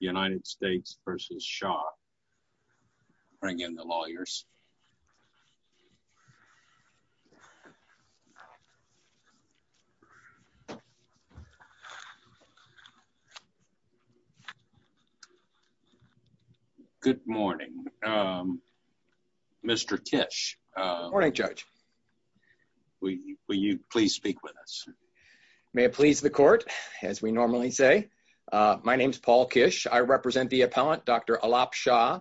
United States v. Shah. Bring in the lawyers. Good morning. Mr. Kish. Good morning, Judge. Will you please speak with us? May it be so. My name is Paul Kish. I represent the appellant, Dr. Alap Shah,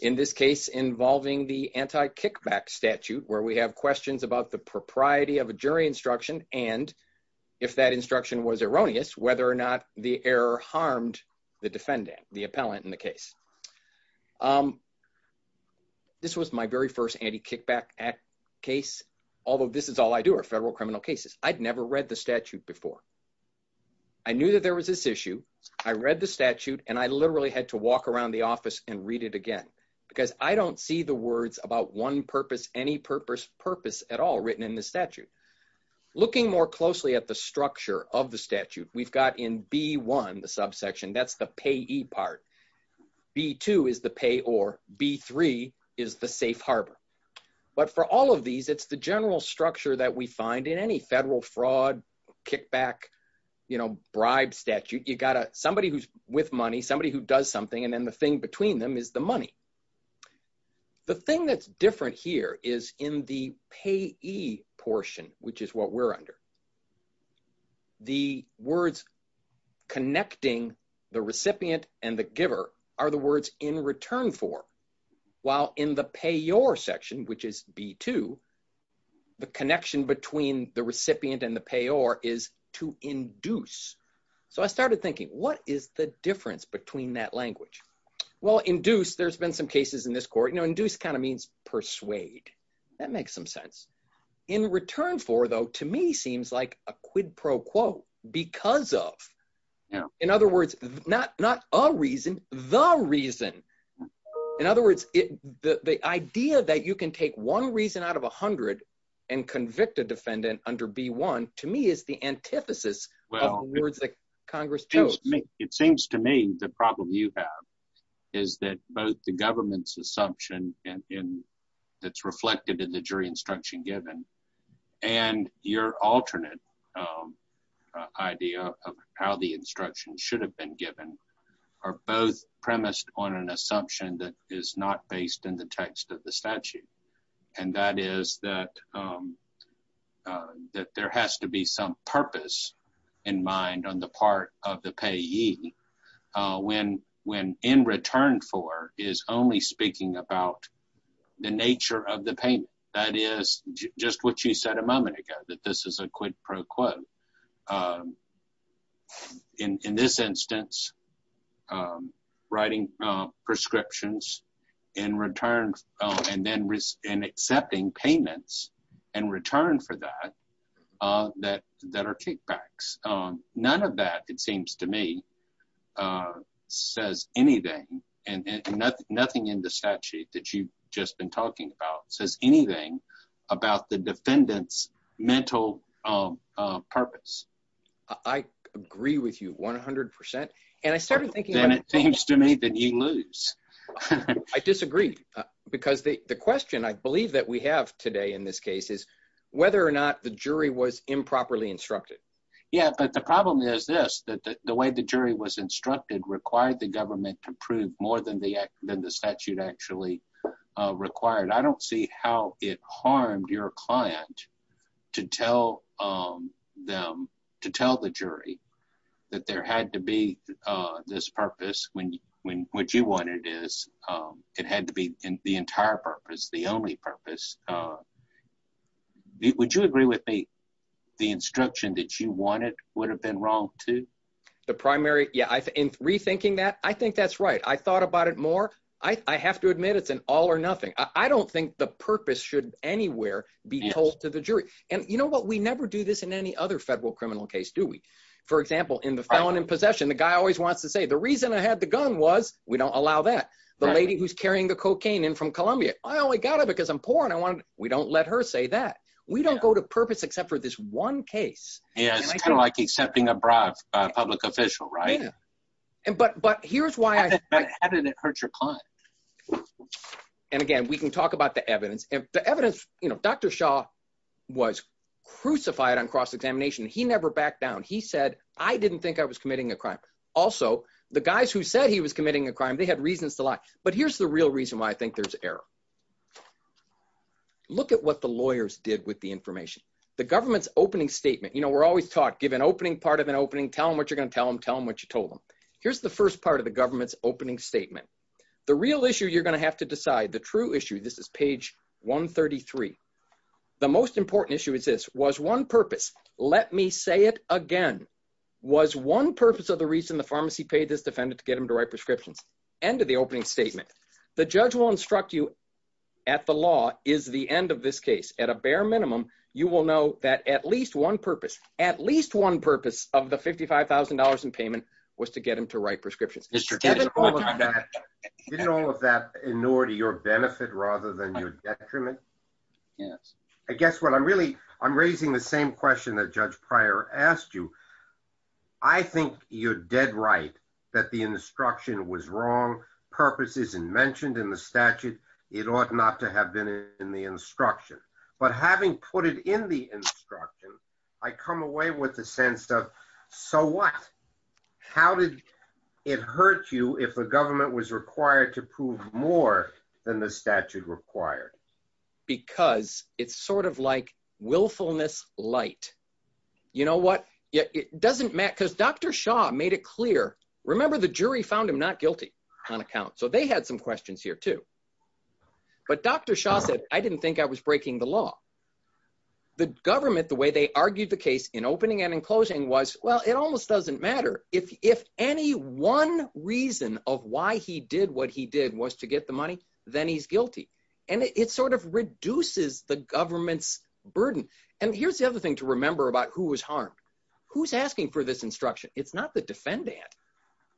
in this case involving the anti-kickback statute where we have questions about the propriety of a jury instruction and, if that instruction was erroneous, whether or not the error harmed the defendant, the appellant in the case. This was my very first anti-kickback act case, although this is all I do are federal criminal cases. I'd never read the statute before. I knew that there was this issue. I read the statute, and I literally had to walk around the office and read it again because I don't see the words about one purpose, any purpose, purpose at all written in the statute. Looking more closely at the structure of the statute, we've got in B1, the subsection, that's the payee part. B2 is the payor. B3 is the safe harbor. But for all of these, it's the general structure that we find in any federal fraud, kickback, you know, bribe statute. You've got somebody who's with money, somebody who does something, and then the thing between them is the money. The thing that's different here is in the payee portion, which is what we're under, the words connecting the recipient and the giver are the words in return for, while in the payor section, which is B2, the connection between the recipient and the payor is to induce. So I started thinking, what is the difference between that language? Well, induce, there's been some cases in this court, you know, induce kind of means persuade. That makes some sense. In return for, though, to me seems like a quid pro quo, because of. In other words, not a reason, the reason. In other words, the idea that you can take one reason out of 100 and convict a defendant under B1, to me, is the antithesis of the words that Congress chose. It seems to me the problem you have is that both the government's assumption that's reflected in the jury instruction given and your alternate idea of how the instruction should have been given are both premised on an assumption that is not based in the text of the statute. And that is that there has to be some purpose in mind on the part of the payee when in return for is only speaking about the nature of the payment. That is just what you said a moment ago, that this is a quid pro quo. In this instance, writing prescriptions in return and then accepting payments in return for that, that are kickbacks. None of that, it seems to me, says anything. Nothing in the statute that you've just been talking about says anything about the defendant's mental purpose. I agree with you 100%. And I started thinking… Then it seems to me that you lose. I disagree, because the question I believe that we have today in this case is whether or not the jury was improperly instructed. Yeah, but the problem is this, that the way the jury was instructed required the government to prove more than the statute actually required. I don't see how it harmed your client to tell the jury that there had to be this purpose when what you wanted is it had to be the entire purpose, the only purpose. Would you agree with me the instruction that you wanted would have been wrong too? The primary… Yeah, in rethinking that, I think that's right. I thought about it more. I have to admit it's an all or nothing. I don't think the purpose should anywhere be told to the jury. And you know what? We never do this in any other federal criminal case, do we? For example, in the felon in possession, the guy always wants to say the reason I had the gun was we don't allow that. The lady who's carrying the cocaine in from Columbia, I only got it because I'm poor and we don't let her say that. We don't go to purpose except for this one case. Yeah, it's kind of like accepting a bribe by a public official, right? But here's why I… But how did it hurt your client? And again, we can talk about the evidence. The evidence, you know, Dr. Shah was crucified on cross-examination. He never backed down. He said, I didn't think I was committing a crime. Also, the guys who said he was committing a crime, they had reasons to lie. But here's the real reason why I think there's error. Look at what the lawyers did with the information. The government's opening statement, you know, we're always taught, give an opening part of an opening, tell them what you're going to tell them, tell them what you told them. Here's the first part of the government's opening statement. The real issue you're going to have to decide, the true issue, this is page 133. The most important issue is this, was one purpose, let me say it again. Was one purpose of the reason the pharmacy paid this defendant to get him to write prescriptions. End of the opening statement. The judge will instruct you at the law is the end of this case. At a bare minimum, you will know that at least one purpose, at least one purpose of the $55,000 in payment was to get him to write prescriptions. Didn't all of that ignore to your benefit rather than your detriment? Yes. I guess what I'm really, I'm raising the same question that Judge Pryor asked you. I think you're dead right that the instruction was wrong. Purpose isn't mentioned in the statute. It ought not to have been in the instruction. But having put it in the instruction, I come away with the sense of, so what? How did it hurt you if the government was required to prove more than the statute required? Because it's sort of like willfulness light. You know what? It doesn't matter because Dr. Shaw made it clear. Remember, the jury found him not guilty on account. So they had some questions here too. But Dr. Shaw said, I didn't think I was breaking the law. The government, the way they argued the case in opening and in closing was, well, it almost doesn't matter if any one reason of why he did what he did was to get the money, then he's guilty. And it sort of reduces the government's burden. And here's the other thing to remember about who was harmed. Who's asking for this instruction? It's not the defendant.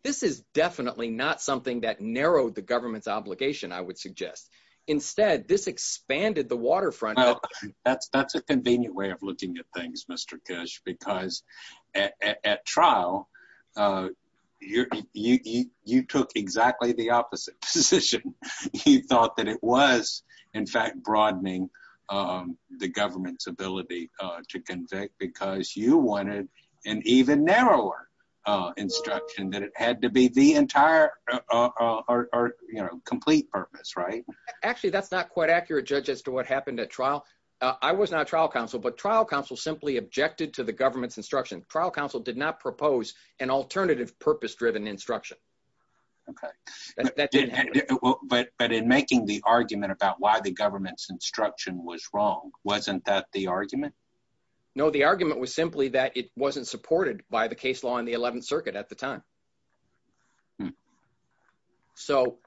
This is definitely not something that narrowed the government's obligation, I would suggest. Instead, this expanded the waterfront. That's a convenient way of looking at things, Mr. Kish, because at trial, you took exactly the opposite position. You thought that it was, in fact, broadening the government's ability to convict because you wanted an even narrower instruction that it had to be the entire or complete purpose, right? Actually, that's not quite accurate, Judge, as to what happened at trial. I was not trial counsel, but trial counsel simply objected to the government's instruction. Trial counsel did not propose an alternative purpose-driven instruction. But in making the argument about why the government's instruction was wrong, wasn't that the argument? No, the argument was simply that it wasn't supported by the case law in the 11th Circuit at the time. So,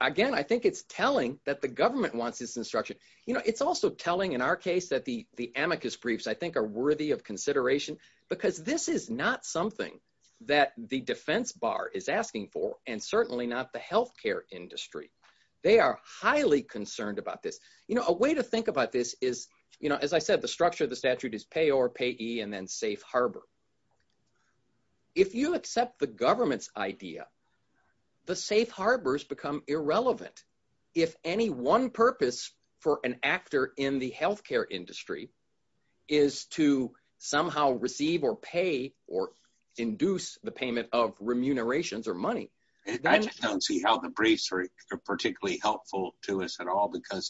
again, I think it's telling that the government wants this instruction. It's also telling, in our case, that the amicus briefs, I think, are worthy of consideration because this is not something that the defense bar is asking for, and certainly not the healthcare industry. They are highly concerned about this. A way to think about this is, as I said, the structure of the statute is payor, payee, and then safe harbor. If you accept the government's idea, the safe harbors become irrelevant. If any one purpose for an actor in the healthcare industry is to somehow receive or pay or induce the payment of remunerations or money… Because,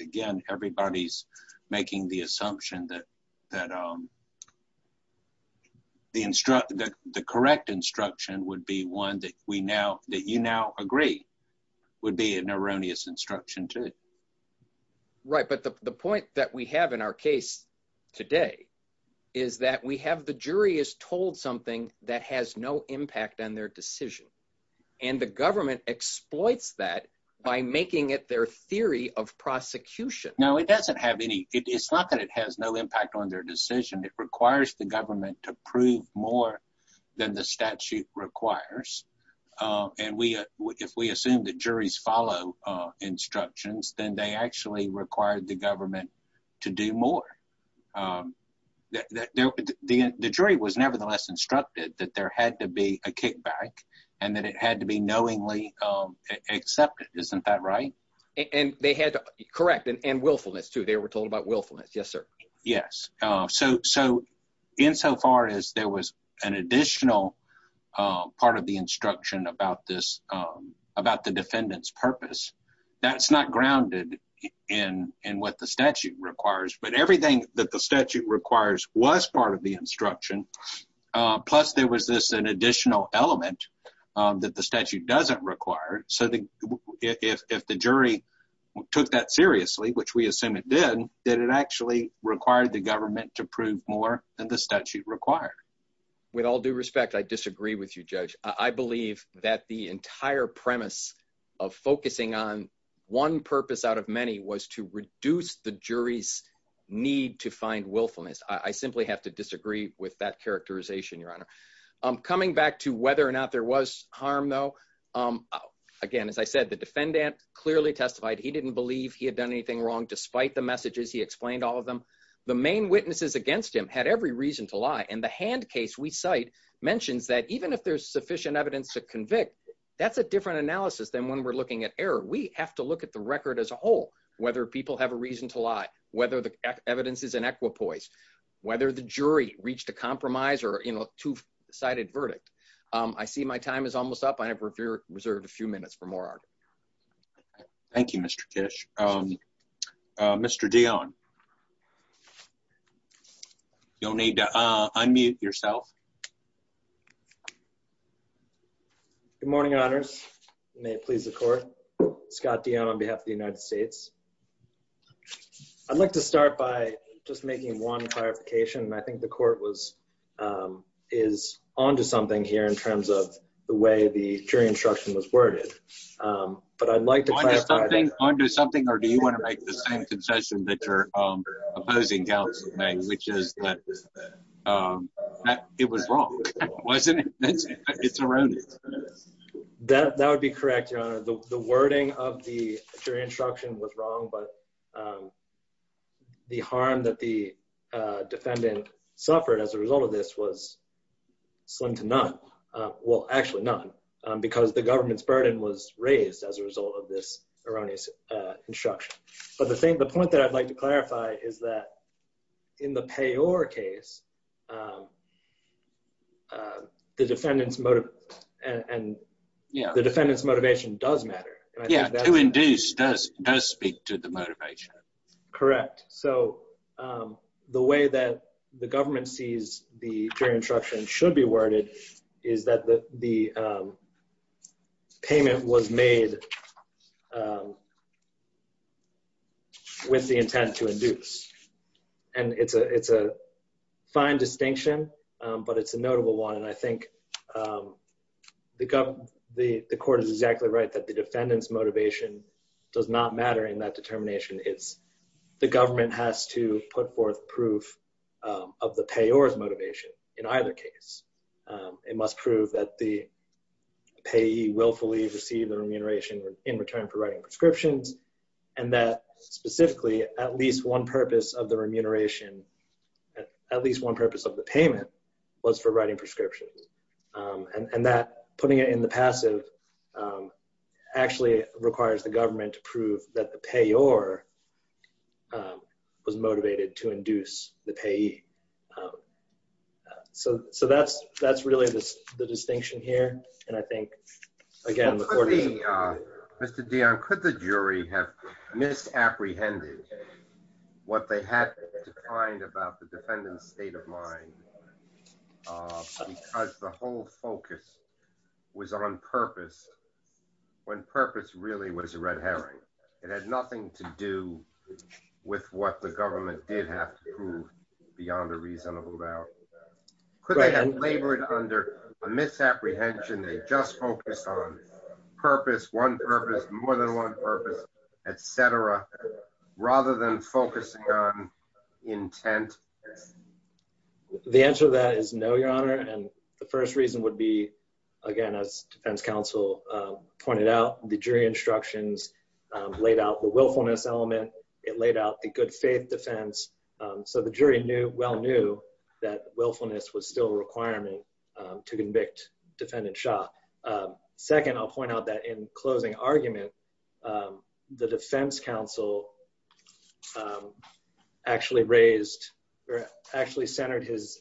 again, everybody's making the assumption that the correct instruction would be one that you now agree would be an erroneous instruction, too. Right, but the point that we have in our case today is that we have the jury is told something that has no impact on their decision. And the government exploits that by making it their theory of prosecution. No, it doesn't have any – it's not that it has no impact on their decision. It requires the government to prove more than the statute requires. And if we assume that juries follow instructions, then they actually require the government to do more. The jury was nevertheless instructed that there had to be a kickback and that it had to be knowingly accepted. Isn't that right? And they had to – correct, and willfulness, too. They were told about willfulness. Yes, sir. Yes, so insofar as there was an additional part of the instruction about the defendant's purpose, that's not grounded in what the statute requires. But everything that the statute requires was part of the instruction, plus there was this additional element that the statute doesn't require. So if the jury took that seriously, which we assume it did, then it actually required the government to prove more than the statute required. With all due respect, I disagree with you, Judge. I believe that the entire premise of focusing on one purpose out of many was to reduce the jury's need to find willfulness. I simply have to disagree with that characterization, Your Honor. Coming back to whether or not there was harm, though, again, as I said, the defendant clearly testified he didn't believe he had done anything wrong despite the messages he explained all of them. The main witnesses against him had every reason to lie, and the hand case we cite mentions that even if there's sufficient evidence to convict, that's a different analysis than when we're looking at error. We have to look at the record as a whole, whether people have a reason to lie, whether the evidence is inequipoise, whether the jury reached a compromise or, you know, two-sided verdict. I see my time is almost up. I have reserved a few minutes for more argument. Thank you, Mr. Kish. Mr. Dionne, you'll need to unmute yourself. Good morning, Honors. May it please the Court. Scott Dionne on behalf of the United States. I'd like to start by just making one clarification, and I think the Court is on to something here in terms of the way the jury instruction was worded, but I'd like to clarify that. On to something, or do you want to make the same concession that you're opposing, Counsel, which is that it was wrong, wasn't it? It's erroneous. That would be correct, Your Honor. The wording of the jury instruction was wrong, but the harm that the defendant suffered as a result of this was slim to none. Well, actually none, because the government's burden was raised as a result of this erroneous instruction. But the point that I'd like to clarify is that in the Payor case, the defendant's motivation does matter. Yeah, to induce does speak to the motivation. Correct. So the way that the government sees the jury instruction should be worded is that the payment was made with the intent to induce, and it's a fine distinction, but it's a notable one. And I think the Court is exactly right that the defendant's motivation does not matter in that determination. The government has to put forth proof of the Payor's motivation in either case. It must prove that the payee willfully received the remuneration in return for writing prescriptions, and that specifically at least one purpose of the remuneration, at least one purpose of the payment, was for writing prescriptions. And that, putting it in the passive, actually requires the government to prove that the Payor was motivated to induce the payee. So that's really the distinction here. Mr. Dionne, could the jury have misapprehended what they had to find about the defendant's state of mind because the whole focus was on purpose, when purpose really was a red herring? It had nothing to do with what the government did have to prove beyond a reasonable doubt. Could they have labored under a misapprehension, they just focused on purpose, one purpose, more than one purpose, et cetera, rather than focusing on intent? The answer to that is no, Your Honor, and the first reason would be, again, as defense counsel pointed out, the jury instructions laid out the willfulness element. It laid out the good faith defense, so the jury well knew that willfulness was still a requirement to convict Defendant Shah. Second, I'll point out that in closing argument, the defense counsel actually centered his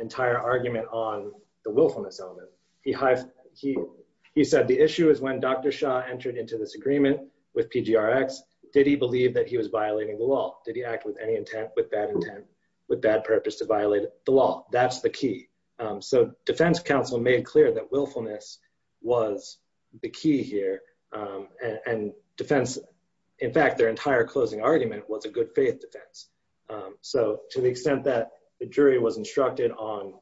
entire argument on the willfulness element. He said the issue is when Dr. Shah entered into this agreement with PGRX, did he believe that he was violating the law? Did he act with any intent, with bad intent, with bad purpose to violate the law? That's the key. So defense counsel made clear that willfulness was the key here, and defense, in fact, their entire closing argument was a good faith defense. So to the extent that the jury was instructed on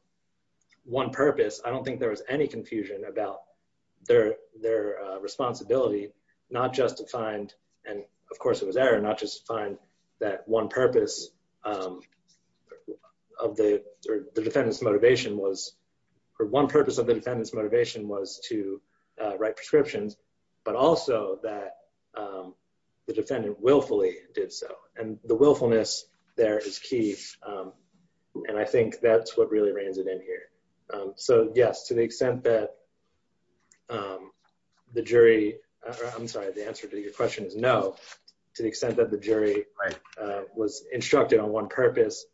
one purpose, I don't think there was any confusion about their responsibility, not just to find, and of course it was error, not just to find that one purpose of the defendant's motivation was, or one purpose of the defendant's motivation was to write prescriptions, but also that the defendant willfully did so. And the willfulness there is key, and I think that's what really reigns it in here. So yes, to the extent that the jury, I'm sorry, the answer to your question is no. To the extent that the jury was instructed on one purpose,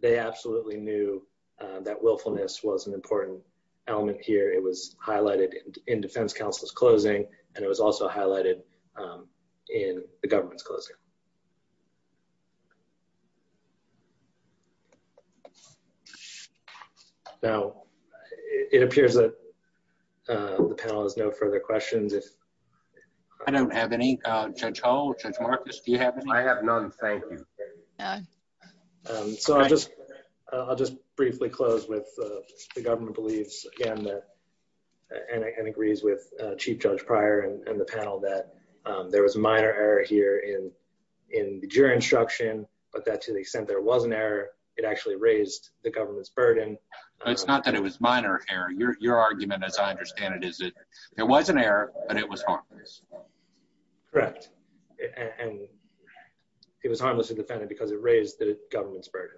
they absolutely knew that willfulness was an important element here. It was highlighted in defense counsel's closing, and it was also highlighted in the government's closing. It appears that the panel has no further questions. I don't have any. Judge Hull, Judge Marcus, do you have any? I have none, thank you. So I'll just briefly close with the government believes, again, and agrees with Chief Judge Pryor and the panel that there was minor error here in the jury instruction, but that to the extent there was an error, it actually raised the government's burden. It's not that it was minor error. Your argument, as I understand it, is that there was an error, but it was harmless. Correct. And it was harmless to the defendant because it raised the government's burden,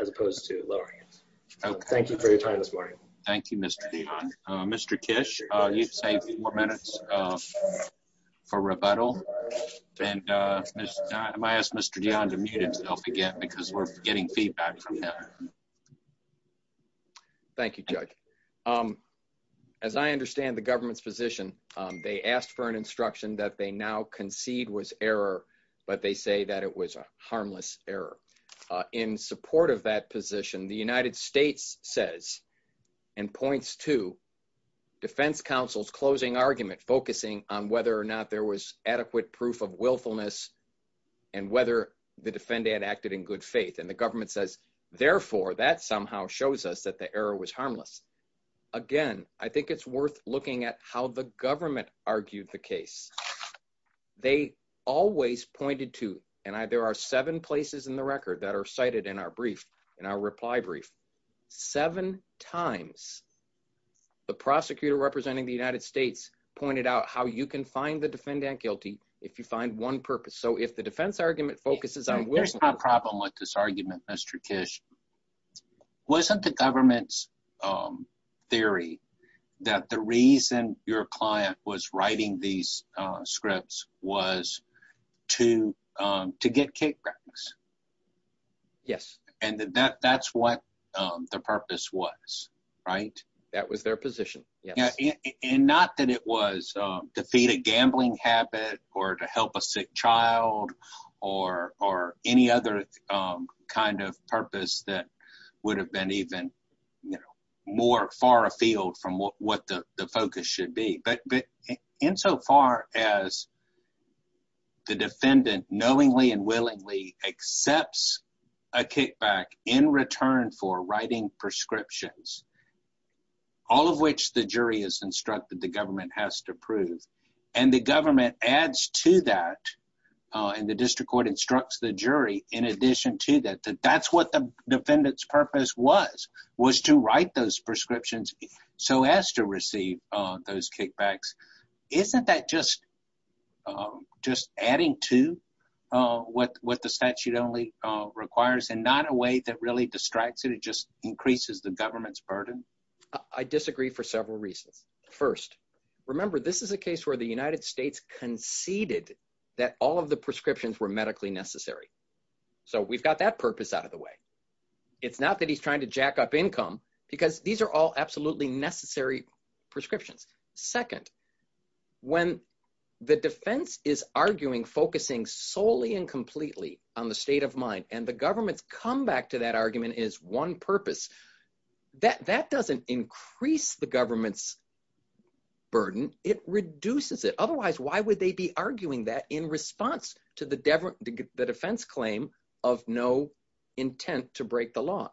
as opposed to lowering it. Thank you for your time this morning. Thank you, Mr. Dion. Mr. Kish, you've saved four minutes for rebuttal. And I ask Mr. Dion to mute himself again because we're getting feedback from him. Thank you, Judge. As I understand the government's position, they asked for an instruction that they now concede was error, but they say that it was a harmless error. In support of that position, the United States says and points to defense counsel's closing argument, focusing on whether or not there was adequate proof of willfulness and whether the defendant acted in good faith. And the government says, therefore, that somehow shows us that the error was harmless. Again, I think it's worth looking at how the government argued the case. They always pointed to, and there are seven places in the record that are cited in our brief, in our reply brief, seven times the prosecutor representing the United States pointed out how you can find the defendant guilty if you find one purpose. Here's my problem with this argument, Mr. Kish. Wasn't the government's theory that the reason your client was writing these scripts was to get kickbacks? Yes. And that's what the purpose was, right? That was their position, yes. And not that it was to feed a gambling habit or to help a sick child or any other kind of purpose that would have been even more far afield from what the focus should be. But insofar as the defendant knowingly and willingly accepts a kickback in return for writing prescriptions, all of which the jury has instructed the government has to prove, and the government adds to that, and the district court instructs the jury in addition to that, that that's what the defendant's purpose was, was to write those prescriptions so as to receive those kickbacks. Isn't that just adding to what the statute only requires and not a way that really distracts it? It just increases the government's burden? I disagree for several reasons. First, remember, this is a case where the United States conceded that all of the prescriptions were medically necessary. So we've got that purpose out of the way. It's not that he's trying to jack up income because these are all absolutely necessary prescriptions. Second, when the defense is arguing, focusing solely and completely on the state of mind and the government's comeback to that argument is one purpose, that doesn't increase the government's burden. It reduces it. Otherwise, why would they be arguing that in response to the defense claim of no intent to break the law?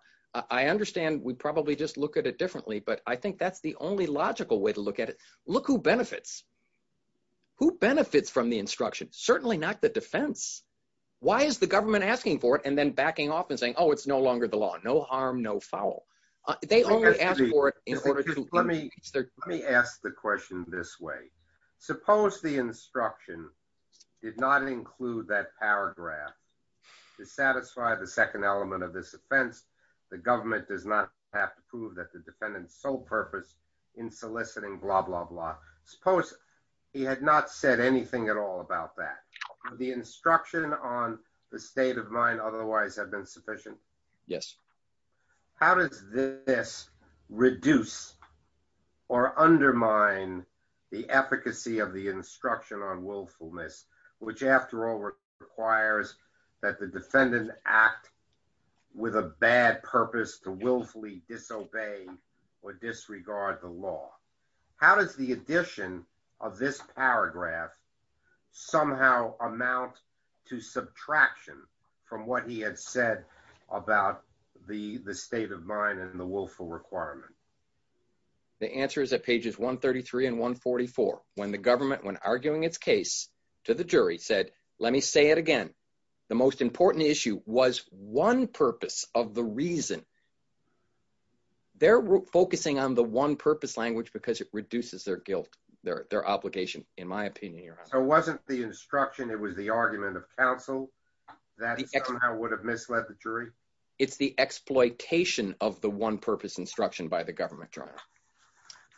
I understand we probably just look at it differently, but I think that's the only logical way to look at it. Look who benefits. Who benefits from the instruction? Certainly not the defense. Why is the government asking for it and then backing off and saying, oh, it's no longer the law, no harm, no foul? They only ask for it in order to increase their— The government does not have to prove that the defendant's sole purpose in soliciting blah, blah, blah. Suppose he had not said anything at all about that. Would the instruction on the state of mind otherwise have been sufficient? Yes. How does this reduce or undermine the efficacy of the instruction on willfulness, which, after all, requires that the defendant act with a bad purpose to willfully disobey or disregard the law? How does the addition of this paragraph somehow amount to subtraction from what he had said about the state of mind and the willful requirement? The answer is at pages 133 and 144, when the government, when arguing its case to the jury, said, let me say it again. The most important issue was one purpose of the reason. They're focusing on the one purpose language because it reduces their guilt, their obligation, in my opinion. So it wasn't the instruction. It was the argument of counsel that somehow would have misled the jury. It's the exploitation of the one purpose instruction by the government trial.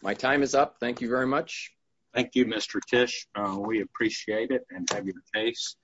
My time is up. Thank you very much. Thank you, Mr. Tish. We appreciate it and have your case.